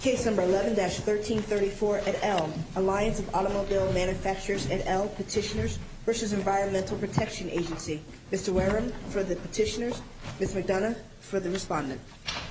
Case number 11-1334 et al. Alliance of Automobile Manufacturers et al. Petitioners v. Environmental Protection Agency Mr. Wareham for the Petitioners, Ms. McDonough for the Respondent Mr. Wareham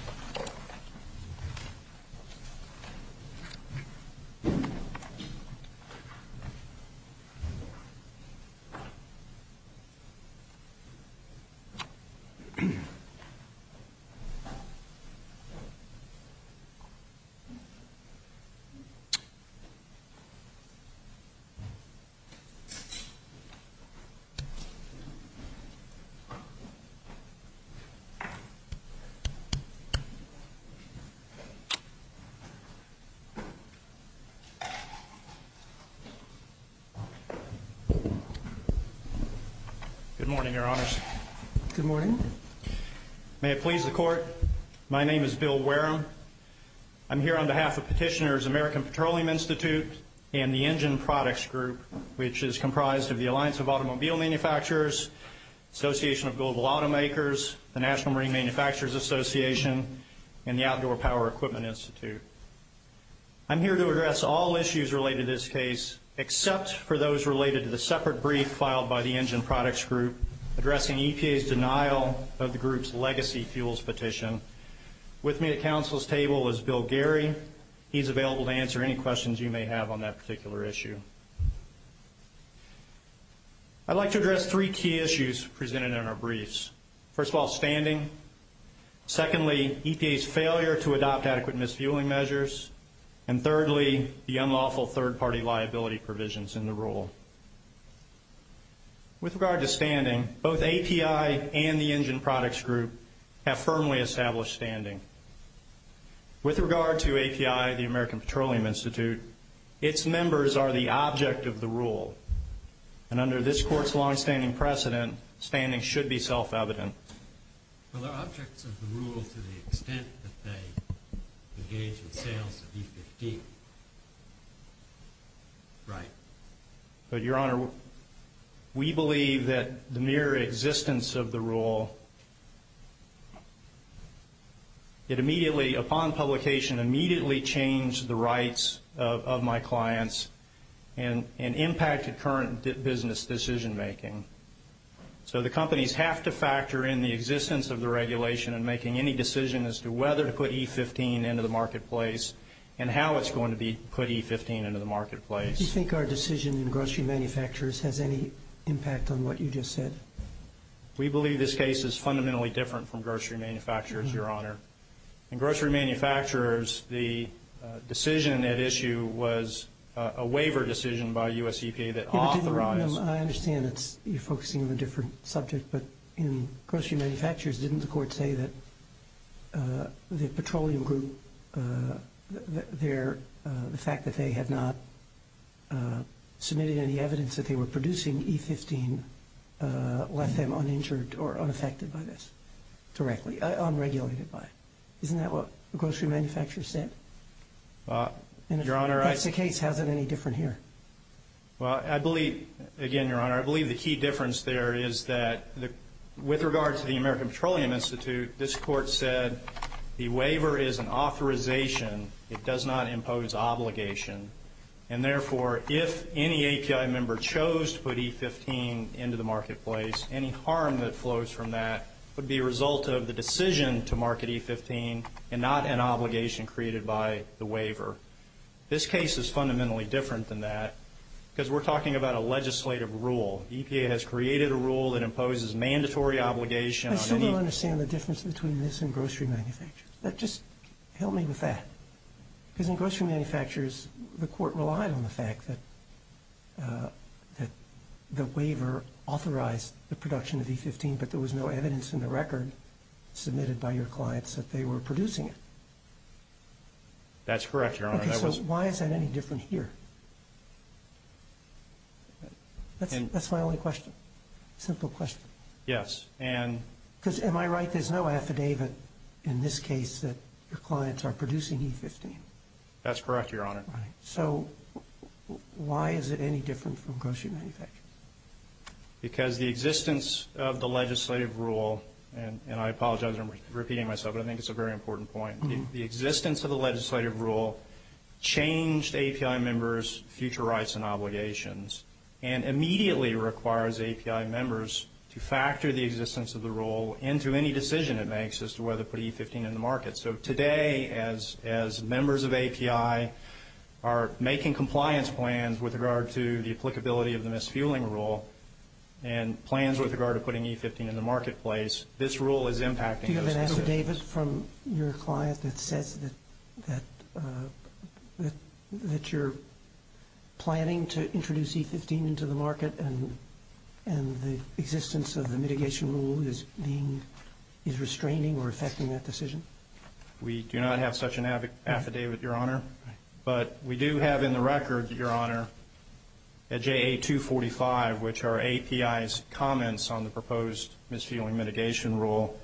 Good morning, Your Honors. Good morning. May it please the Court, my name is Bill Wareham. I'm here on behalf of Petitioners, American Petroleum Institute, and the Engine Products Group, which is comprised of the Alliance of Automobile Manufacturers, Association of Global Automakers, the National Marine Manufacturers Association, and the Outdoor Power Equipment Institute. I'm here to address all issues related to this case, except for those related to the separate brief filed by the Engine Products Group addressing EPA's denial of the group's legacy fuels petition. With me at counsel's table is Bill Gehry. He's available to answer any questions you may have on that particular issue. I'd like to address three key issues presented in our briefs. First of all, standing. Secondly, EPA's failure to adopt adequate misfueling measures. And thirdly, the unlawful third-party liability provisions in the rule. With regard to standing, both API and the Engine Products Group have firmly established standing. With regard to API, the American Petroleum Institute, its members are the object of the rule, and under this Court's longstanding precedent, standing should be self-evident. Well, they're objects of the rule to the extent that they engage in sales of E50. Right. But, Your Honor, we believe that the mere existence of the rule, it immediately, upon publication, immediately changed the rights of my clients and impacted current business decision-making. So the companies have to factor in the existence of the regulation in making any decision as to whether to put E15 into the marketplace and how it's going to be put E15 into the marketplace. Do you think our decision in grocery manufacturers has any impact on what you just said? We believe this case is fundamentally different from grocery manufacturers, Your Honor. In grocery manufacturers, the decision at issue was a waiver decision by U.S. EPA that authorized it. I understand that you're focusing on a different subject, but in grocery manufacturers, didn't the Court say that the petroleum group, the fact that they had not submitted any evidence that they were producing E15 left them uninjured or unaffected by this directly, unregulated by it? Isn't that what the grocery manufacturers said? If that's the case, how is it any different here? Well, I believe, again, Your Honor, I believe the key difference there is that with regard to the American Petroleum Institute, this Court said the waiver is an authorization. It does not impose obligation. And, therefore, if any API member chose to put E15 into the marketplace, any harm that flows from that would be a result of the decision to market E15 and not an obligation created by the waiver. This case is fundamentally different than that because we're talking about a legislative rule. EPA has created a rule that imposes mandatory obligation on any I don't understand the difference between this and grocery manufacturers. Just help me with that. Because in grocery manufacturers, the Court relied on the fact that the waiver authorized the production of E15, but there was no evidence in the record submitted by your clients that they were producing it. That's correct, Your Honor. Okay, so why is that any different here? That's my only question, simple question. Yes, and Because, am I right, there's no affidavit in this case that your clients are producing E15? That's correct, Your Honor. Right. So why is it any different from grocery manufacturers? Because the existence of the legislative rule, and I apologize, I'm repeating myself, but I think it's a very important point. The existence of the legislative rule changed API members' future rights and obligations and immediately requires API members to factor the existence of the rule into any decision it makes as to whether to put E15 in the market. So today, as members of API are making compliance plans with regard to the applicability of the misfueling rule and plans with regard to putting E15 in the marketplace, this rule is impacting those decisions. Is there an affidavit from your client that says that you're planning to introduce E15 into the market and the existence of the mitigation rule is being, is restraining or affecting that decision? We do not have such an affidavit, Your Honor, but we do have in the record, Your Honor, at JA245, which are API's comments on the proposed misfueling mitigation rule,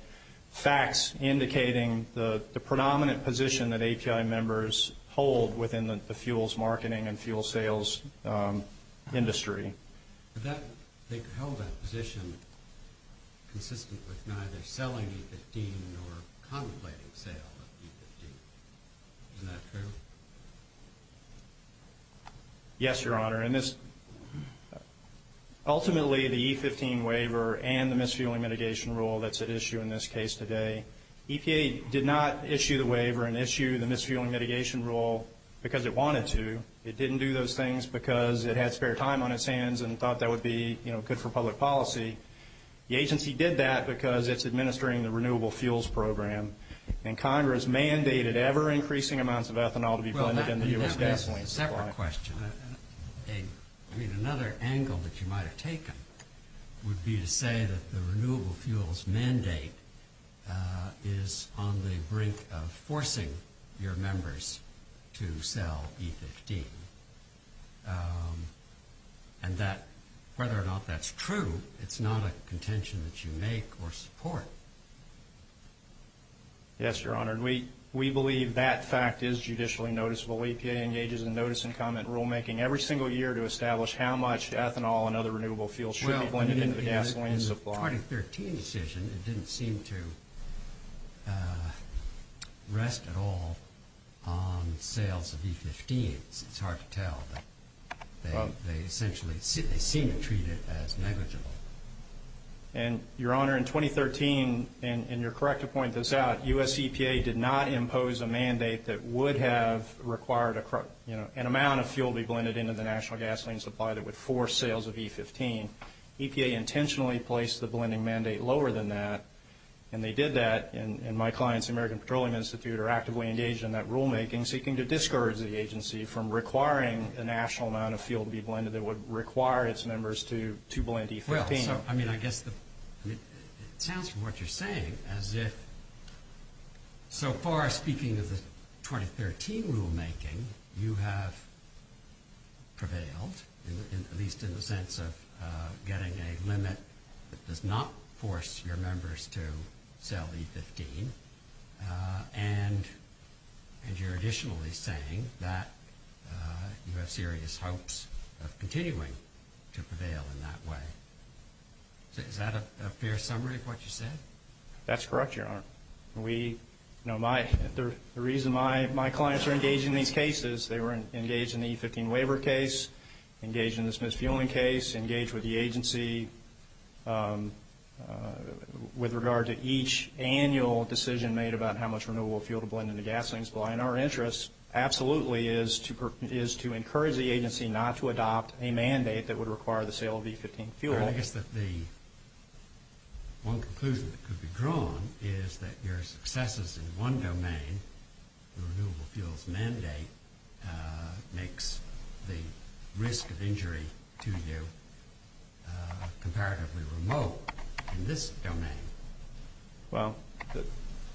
facts indicating the predominant position that API members hold within the fuels marketing and fuel sales industry. They held that position consistent with neither selling E15 nor contemplating sale of E15. Isn't that true? Yes, Your Honor. Ultimately, the E15 waiver and the misfueling mitigation rule that's at issue in this case today, EPA did not issue the waiver and issue the misfueling mitigation rule because it wanted to. It didn't do those things because it had spare time on its hands and thought that would be good for public policy. The agency did that because it's administering the Renewable Fuels Program, and Congress mandated ever-increasing amounts of ethanol to be blended in the U.S. gasoline supply. Well, that's a separate question. I mean, another angle that you might have taken would be to say that the Renewable Fuels mandate is on the brink of forcing your members to sell E15, and whether or not that's true, it's not a contention that you make or support. Yes, Your Honor. We believe that fact is judicially noticeable. EPA engages in notice-and-comment rulemaking every single year to establish how much ethanol and other renewable fuels should be blended into the gasoline supply. In the 2013 decision, it didn't seem to rest at all on sales of E15. It's hard to tell, but they essentially seem to treat it as negligible. And, Your Honor, in 2013, and you're correct to point this out, U.S. EPA did not impose a mandate that would have required an amount of fuel to be blended into the national gasoline supply that would force sales of E15. EPA intentionally placed the blending mandate lower than that, and they did that. And my clients, the American Petroleum Institute, are actively engaged in that rulemaking, seeking to discourage the agency from requiring a national amount of fuel to be blended that would require its members to blend E15. Well, I mean, I guess it sounds from what you're saying as if so far, speaking of the 2013 rulemaking, you have prevailed, at least in the sense of getting a limit that does not force your members to sell E15. And you're additionally saying that you have serious hopes of continuing to prevail in that way. Is that a fair summary of what you said? That's correct, Your Honor. The reason my clients are engaged in these cases, they were engaged in the E15 waiver case, engaged in the smith's fueling case, engaged with the agency with regard to each annual decision made about how much renewable fuel to blend into gasoline supply. And our interest absolutely is to encourage the agency not to adopt a mandate that would require the sale of E15 fuel. Your Honor, I guess that the one conclusion that could be drawn is that your successes in one domain, the renewable fuels mandate, makes the risk of injury to you comparatively remote in this domain. Well,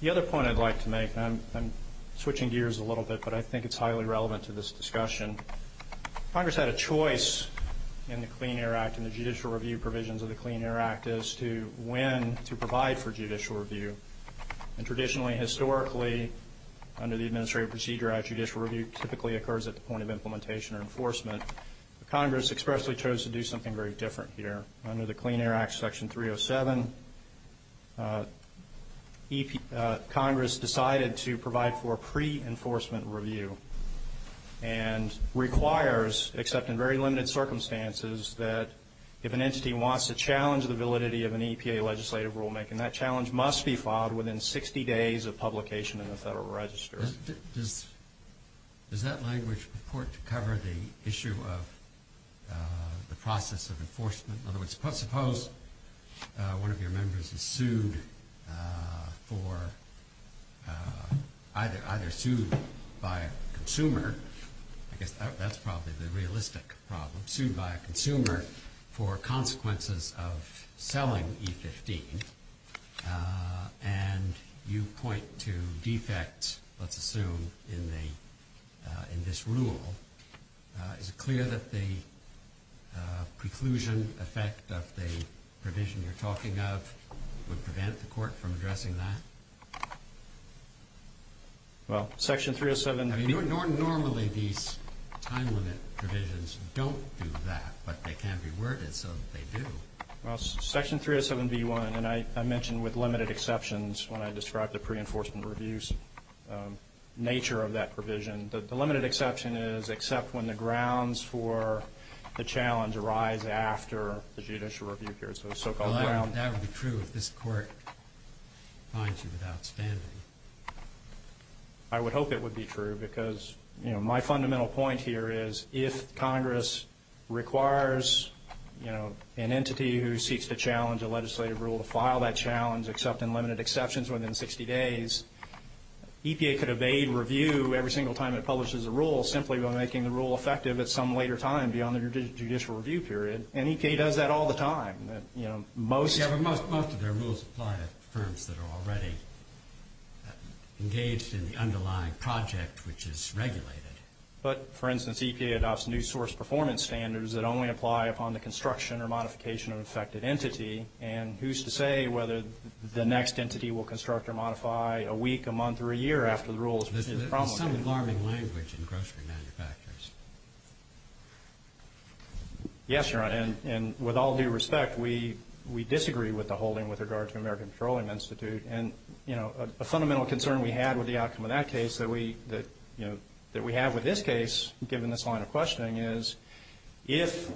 the other point I'd like to make, and I'm switching gears a little bit, but I think it's highly relevant to this discussion. Congress had a choice in the Clean Air Act and the judicial review provisions of the Clean Air Act as to when to provide for judicial review. And traditionally, historically, under the Administrative Procedure Act, judicial review typically occurs at the point of implementation or enforcement. Congress expressly chose to do something very different here. Under the Clean Air Act, Section 307, Congress decided to provide for pre-enforcement review. And requires, except in very limited circumstances, that if an entity wants to challenge the validity of an EPA legislative rulemaking, that challenge must be filed within 60 days of publication in the Federal Register. Does that language report cover the issue of the process of enforcement? In other words, suppose one of your members is sued for, either sued by a consumer, I guess that's probably the realistic problem, sued by a consumer for consequences of selling E15, and you point to defects, let's assume, in this rule. Is it clear that the preclusion effect of the provision you're talking of would prevent the court from addressing that? Well, Section 307B1. Normally these time limit provisions don't do that, but they can be worded so that they do. Well, Section 307B1, and I mentioned with limited exceptions when I described the pre-enforcement reviews nature of that provision, the limited exception is except when the grounds for the challenge arise after the judicial review period, so the so-called grounds. Well, that would be true if this court finds you without standing. I would hope it would be true because, you know, my fundamental point here is if Congress requires, you know, an entity who seeks to challenge a legislative rule to file that challenge except in limited exceptions within 60 days, EPA could evade review every single time it publishes a rule simply by making the rule effective at some later time beyond the judicial review period, and EPA does that all the time. Yeah, but most of their rules apply to firms that are already engaged in the underlying project, which is regulated. But, for instance, EPA adopts new source performance standards that only apply upon the construction or modification of an affected entity, and who's to say whether the next entity will construct or modify a week, a month, or a year after the rules. There's some alarming language in grocery manufacturers. Yes, Your Honor, and with all due respect, we disagree with the holding with regard to American Petroleum Institute, and, you know, a fundamental concern we had with the outcome of that case that we have with this case, given this line of questioning, is if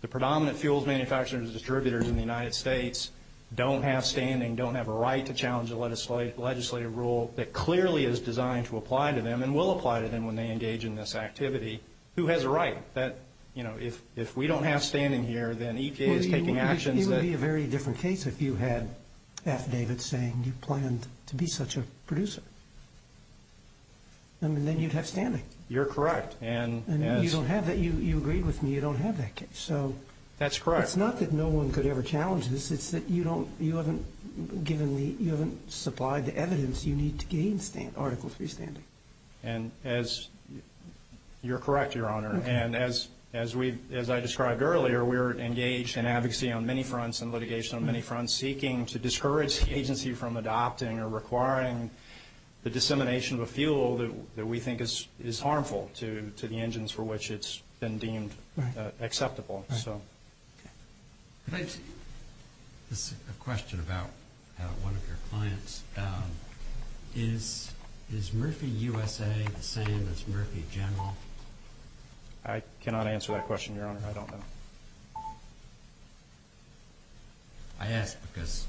the predominant fuels manufacturers and distributors in the United States don't have standing, don't have a right to challenge a legislative rule that clearly is designed to apply to them and will apply to them when they engage in this activity, who has a right that, you know, if we don't have standing here, then EPA is taking actions that... It would be a very different case if you had affidavits saying you planned to be such a producer. I mean, then you'd have standing. You're correct. And you don't have that. You agreed with me. You don't have that case. So... That's correct. It's not that no one could ever challenge this. It's that you don't... You haven't given the... You haven't supplied the evidence you need to gain article 3 standing. And as... You're correct, Your Honor. And as I described earlier, we're engaged in advocacy on many fronts and litigation on many fronts seeking to discourage the agency from adopting or requiring the dissemination of a fuel that we think is harmful to the engines for which it's been deemed acceptable. Right. Right. Okay. Can I just... This is a question about one of your clients. Is Murphy USA the same as Murphy General? I cannot answer that question, Your Honor. I don't know. I ask because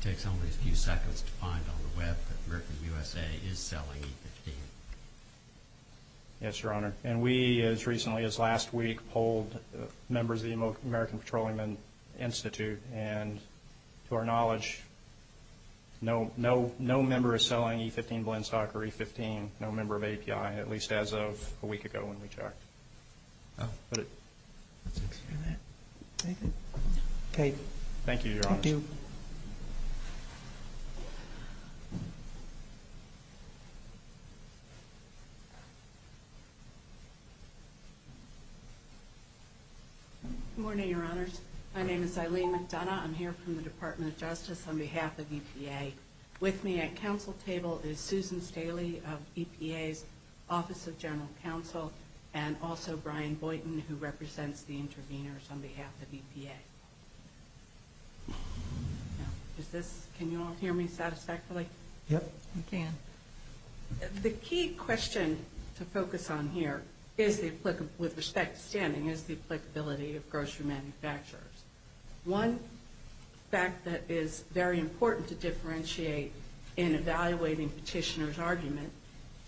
it takes only a few seconds to find on the web that Murphy USA is selling E15. Yes, Your Honor. And we, as recently as last week, polled members of the American Petroleum Institute. And to our knowledge, no member is selling E15 blend stock or E15, no member of API, at least as of a week ago when we checked. Okay. Thank you, Your Honor. Thank you. Good morning, Your Honors. My name is Eileen McDonough. I'm here from the Department of Justice on behalf of EPA. With me at council table is Susan Staley of EPA's Office of General Counsel and also Brian Boynton who represents the interveners on behalf of EPA. Can you all hear me satisfactorily? Yep. We can. The key question to focus on here, with respect to standing, is the applicability of grocery manufacturers. One fact that is very important to differentiate in evaluating petitioner's argument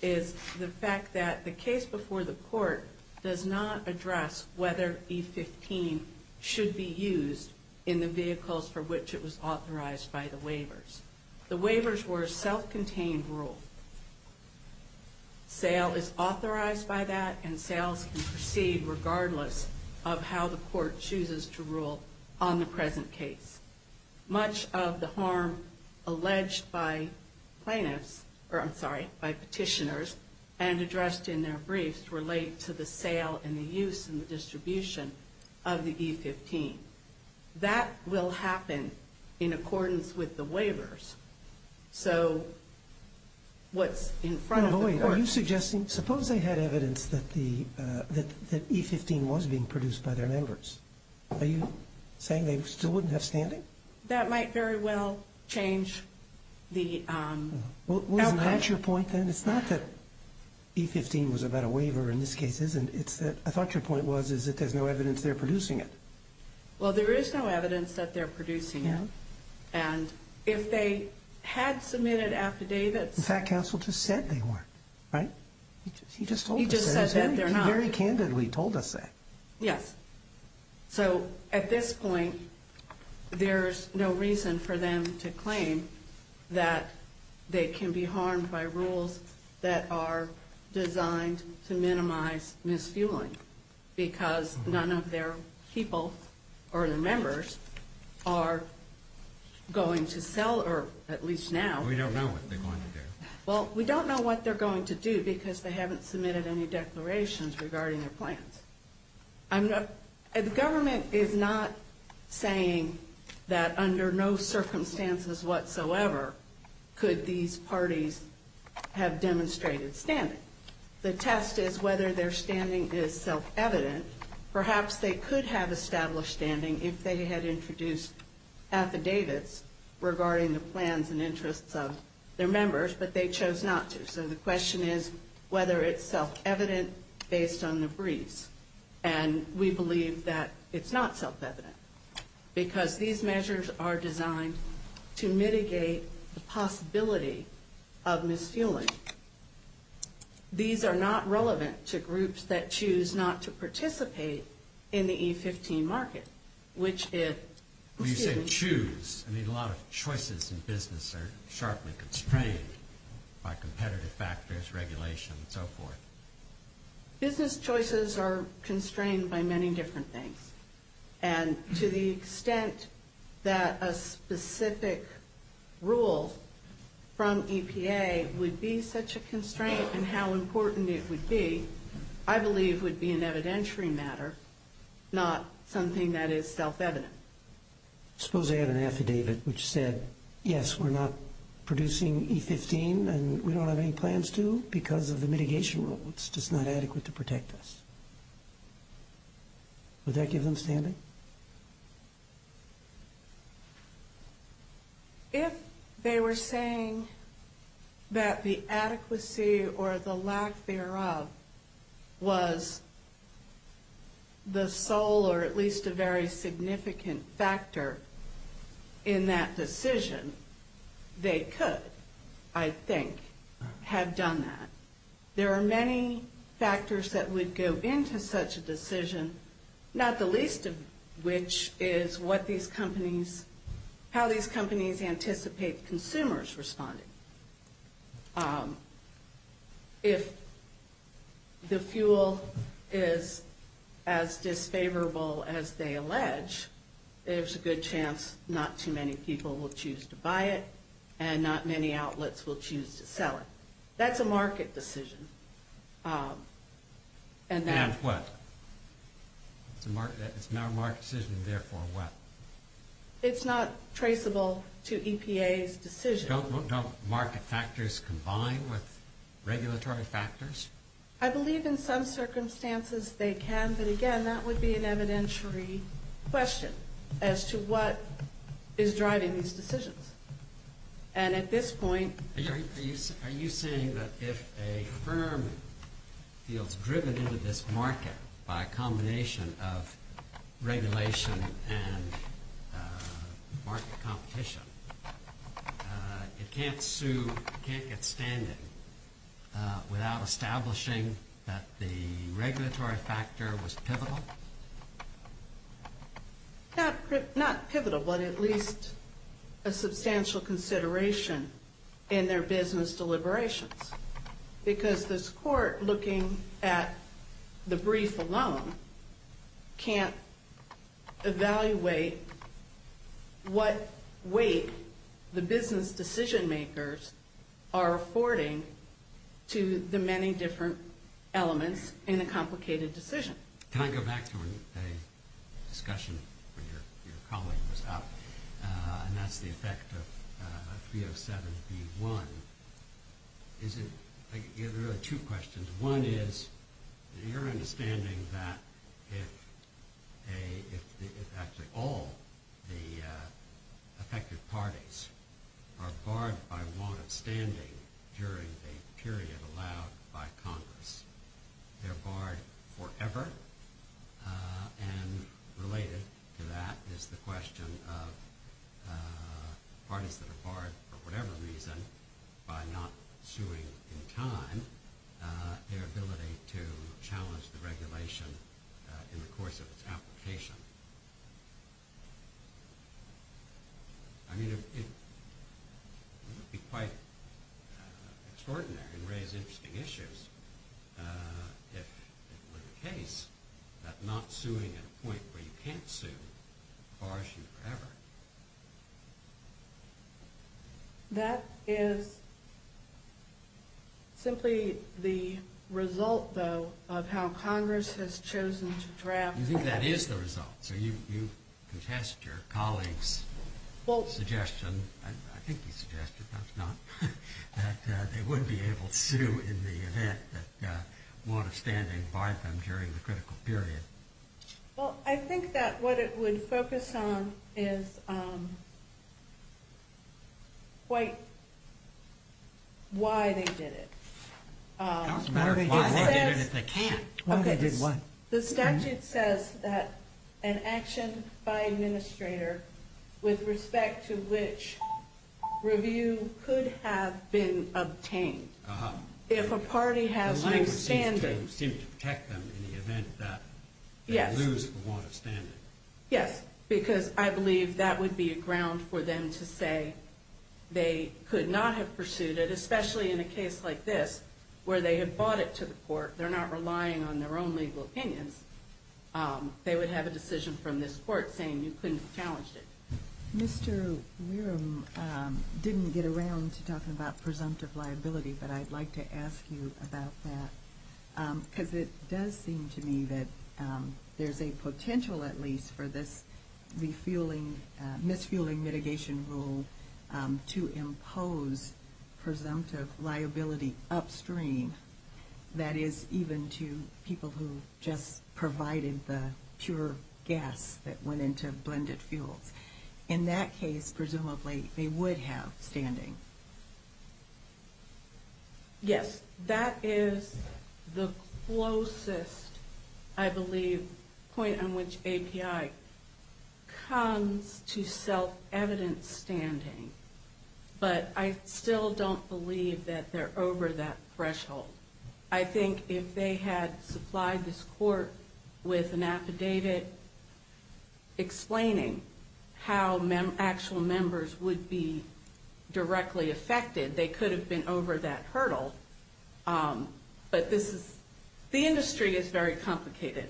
is the fact that the case before the court does not address whether E15 should be used in the vehicles for which it was authorized by the waivers. The waivers were a self-contained rule. Sale is authorized by that, and sales can proceed regardless of how the court chooses to rule on the present case. Much of the harm alleged by plaintiffs, or I'm sorry, by petitioners, and addressed in their briefs relate to the sale and the use and the distribution of the E15. That will happen in accordance with the waivers. So what's in front of the court. Now, wait. Are you suggesting, suppose they had evidence that E15 was being produced by their members. Are you saying they still wouldn't have standing? That might very well change the outcome. Well, isn't that your point then? It's not that E15 was about a waiver in this case. I thought your point was that there's no evidence they're producing it. Well, there is no evidence that they're producing it. And if they had submitted affidavits. In fact, counsel just said they weren't, right? He just told us that. He just said that they're not. He very candidly told us that. Yes. So at this point, there's no reason for them to claim that they can be harmed by rules that are designed to minimize misfueling. Because none of their people or their members are going to sell, or at least now. We don't know what they're going to do. Well, we don't know what they're going to do because they haven't submitted any declarations regarding their plans. The government is not saying that under no circumstances whatsoever could these parties have demonstrated standing. The test is whether their standing is self-evident. Perhaps they could have established standing if they had introduced affidavits regarding the plans and interests of their members. But they chose not to. So the question is whether it's self-evident based on the briefs. And we believe that it's not self-evident. Because these measures are designed to mitigate the possibility of misfueling. These are not relevant to groups that choose not to participate in the E15 market, which is... When you say choose, I mean a lot of choices in business are sharply constrained by competitive factors, regulation, and so forth. Business choices are constrained by many different things. And to the extent that a specific rule from EPA would be such a constraint and how important it would be, I believe would be an evidentiary matter, not something that is self-evident. Suppose they had an affidavit which said, yes, we're not producing E15 and we don't have any plans to because of the mitigation rules. It's just not adequate to protect us. Would that give them standing? If they were saying that the adequacy or the lack thereof was the sole or at least a very significant factor in that decision, they could, I think, have done that. There are many factors that would go into such a decision, not the least of which is how these companies anticipate consumers responding. If the fuel is as disfavorable as they allege, there's a good chance not too many people will choose to buy it and not many outlets will choose to sell it. That's a market decision. And what? It's not a market decision, therefore what? It's not traceable to EPA's decision. Don't market factors combine with regulatory factors? I believe in some circumstances they can, but again, that would be an evidentiary question as to what is driving these decisions. And at this point... Are you saying that if a firm feels driven into this market by a combination of regulation and market competition, it can't sue, it can't get standing without establishing that the regulatory factor was pivotal? Not pivotal, but at least a substantial consideration in their business deliberations, because this court, looking at the brief alone, can't evaluate what weight the business decision makers are affording to the many different elements in a complicated decision. Can I go back to a discussion where your colleague was up, and that's the effect of 307B1? There are two questions. One is your understanding that if all the affected parties are barred by warrant of standing during a period allowed by Congress, they're barred forever? And related to that is the question of parties that are barred for whatever reason by not suing in time, their ability to challenge the regulation in the course of its application. I mean, it would be quite extraordinary and raise interesting issues if it were the case that not suing at a point where you can't sue would bar issues forever. That is simply the result, though, of how Congress has chosen to draft... You think that is the result, so you contest your colleague's suggestion, I think he suggested, perhaps not, that they wouldn't be able to sue in the event that warrant of standing barred them during the critical period. Well, I think that what it would focus on is quite why they did it. It doesn't matter why they did it if they can't. The statute says that an action by an administrator with respect to which review could have been obtained if a party has no standing... The language seems to protect them in the event that they lose the warrant of standing. Yes, because I believe that would be a ground for them to say they could not have pursued it, especially in a case like this where they had bought it to the court. They're not relying on their own legal opinions. They would have a decision from this court saying you couldn't have challenged it. Mr. Wierm didn't get around to talking about presumptive liability, but I'd like to ask you about that. Because it does seem to me that there's a potential, at least, for this refueling... to impose presumptive liability upstream. That is, even to people who just provided the pure gas that went into blended fuels. In that case, presumably, they would have standing. Yes, that is the closest, I believe, point on which API comes to self-evident standing. But I still don't believe that they're over that threshold. I think if they had supplied this court with an affidavit explaining how actual members would be directly affected, they could have been over that hurdle. But the industry is very complicated,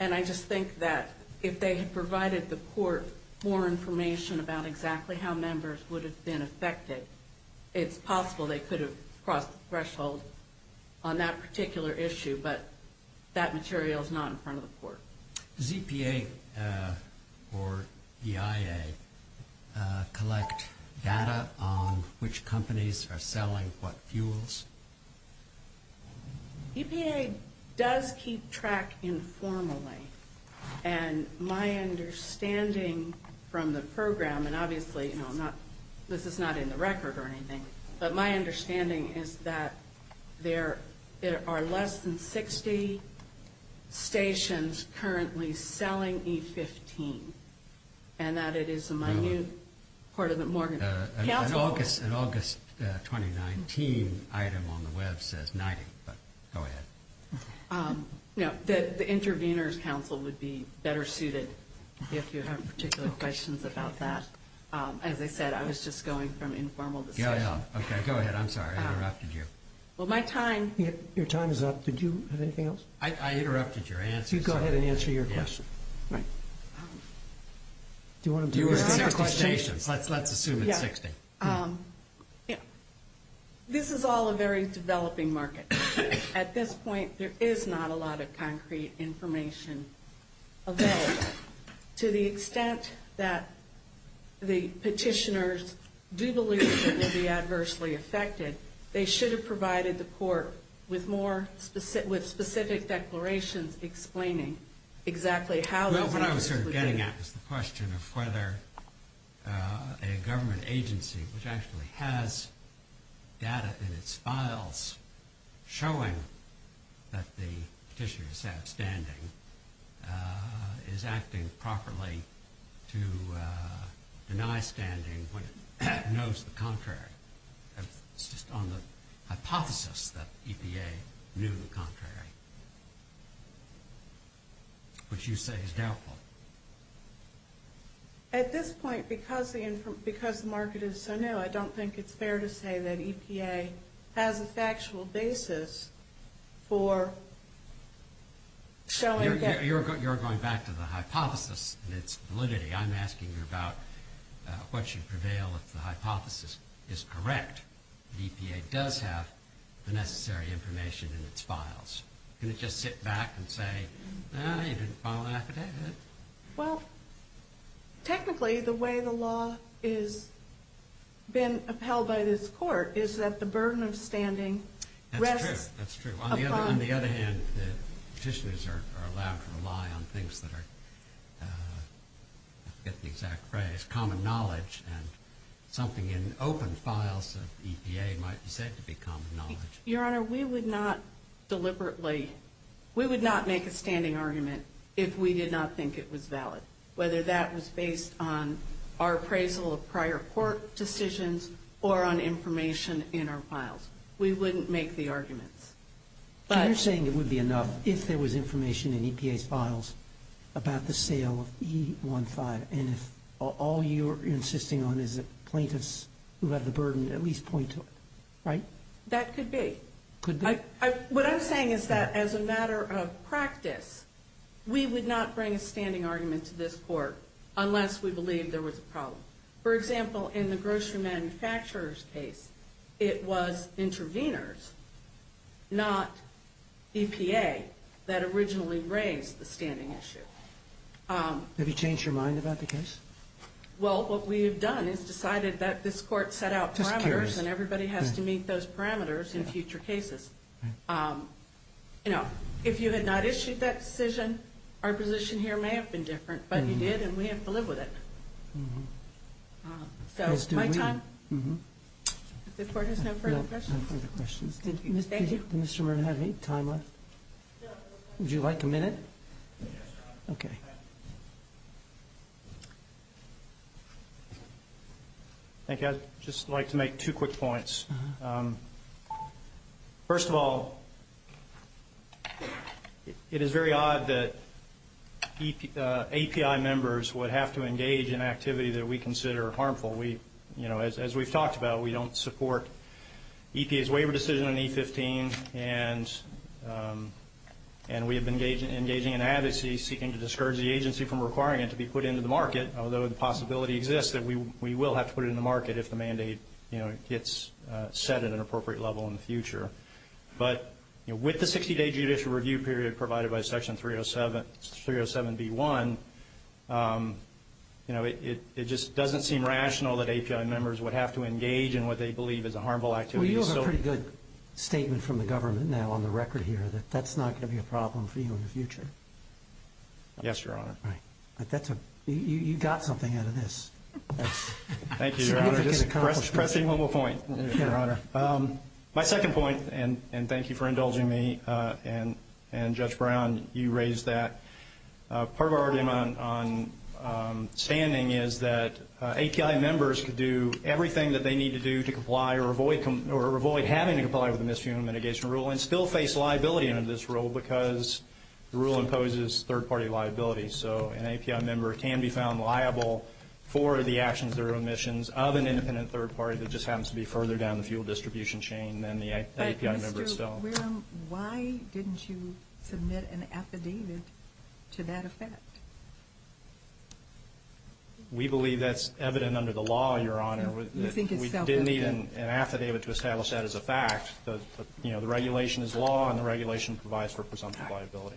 and I just think that if they had provided the court more information about exactly how members would have been affected, it's possible they could have crossed the threshold. On that particular issue, but that material is not in front of the court. Does EPA or EIA collect data on which companies are selling what fuels? EPA does keep track informally, and my understanding from the program... Obviously, this is not in the record or anything, but my understanding is that there are less than 60 stations currently selling E15, and that it is a minute part of the... An August 2019 item on the web says 90, but go ahead. The Intervenors Council would be better suited if you have particular questions about that. As I said, I was just going from informal discussion. Okay, go ahead. I'm sorry, I interrupted you. Your time is up. Did you have anything else? I interrupted your answer. Go ahead and answer your question. Let's assume it's 60. This is all a very developing market. At this point, there is not a lot of concrete information available. To the extent that the petitioners do believe that they'd be adversely affected, they should have provided the court with more specific declarations explaining exactly how... What I was getting at was the question of whether a government agency, which actually has data in its files showing that the petitioner is outstanding, is acting properly to deny standing when it knows the contrary. It's just on the hypothesis that EPA knew the contrary, which you say is doubtful. At this point, because the market is so new, I don't think it's fair to say that EPA has a factual basis for showing that... You're going back to the hypothesis and its validity. I'm asking you about what should prevail if the hypothesis is correct. EPA does have the necessary information in its files. Can it just sit back and say, you didn't file an affidavit? Technically, the way the law has been upheld by this court is that the burden of standing rests upon... That's true. On the other hand, the petitioners are allowed to rely on things that are, I forget the exact phrase, common knowledge and something in open files of EPA might be said to be common knowledge. Your Honor, we would not deliberately, we would not make a standing argument if we did not think it was valid, whether that was based on our appraisal of prior court decisions or on information in our files. We wouldn't make the arguments. You're saying it would be enough if there was information in EPA's files about the sale of E15 and if all you're insisting on is that plaintiffs who have the burden at least point to it, right? That could be. What I'm saying is that as a matter of practice, we would not bring a standing argument to this court unless we believed there was a problem. For example, in the grocery manufacturer's case, it was interveners, not EPA that originally raised the standing issue. Have you changed your mind about the case? Well, what we have done is decided that this court set out parameters and everybody has to meet those parameters in future cases. You know, if you had not issued that decision, our position here may have been different, but you did and we have to live with it. So, my time? If the court has no further questions. Did Mr. Murna have any time left? Would you like a minute? Okay. Thank you. I'd just like to make two quick points. First of all, it is very odd that API members would have to engage in activity that we consider harmful. As we've talked about, we don't support EPA's waiver decision on E15 and we have been engaging in advocacy seeking to discourage the agency from requiring it to be put into the market, although the possibility exists that we will have to put it in the market if the mandate gets set at an appropriate level in the future. But with the 60-day judicial review period provided by Section 307B1, it just doesn't seem rational that API members would have to engage in advocacy seeking to discourage the agency from requiring it to be put into the market, although the possibility exists that we will have to put it in the market if the mandate gets set at an appropriate level in the future. So, my second point, and thank you for indulging me and Judge Brown, you raised that. Part of our argument on standing is that API members could do everything that they need to do to comply or avoid having to comply with the Misfueling Mitigation Rule and still face liability under this rule because the rule imposes third-party liability. So, an API member can be found liable for the actions or omissions of an independent third party that just happens to be further down the fuel distribution chain than the API member itself. Why didn't you submit an affidavit to that effect? We believe that's evident under the law, Your Honor. We didn't need an affidavit to establish that as a fact. The regulation is law and the regulation provides for presumptive liability.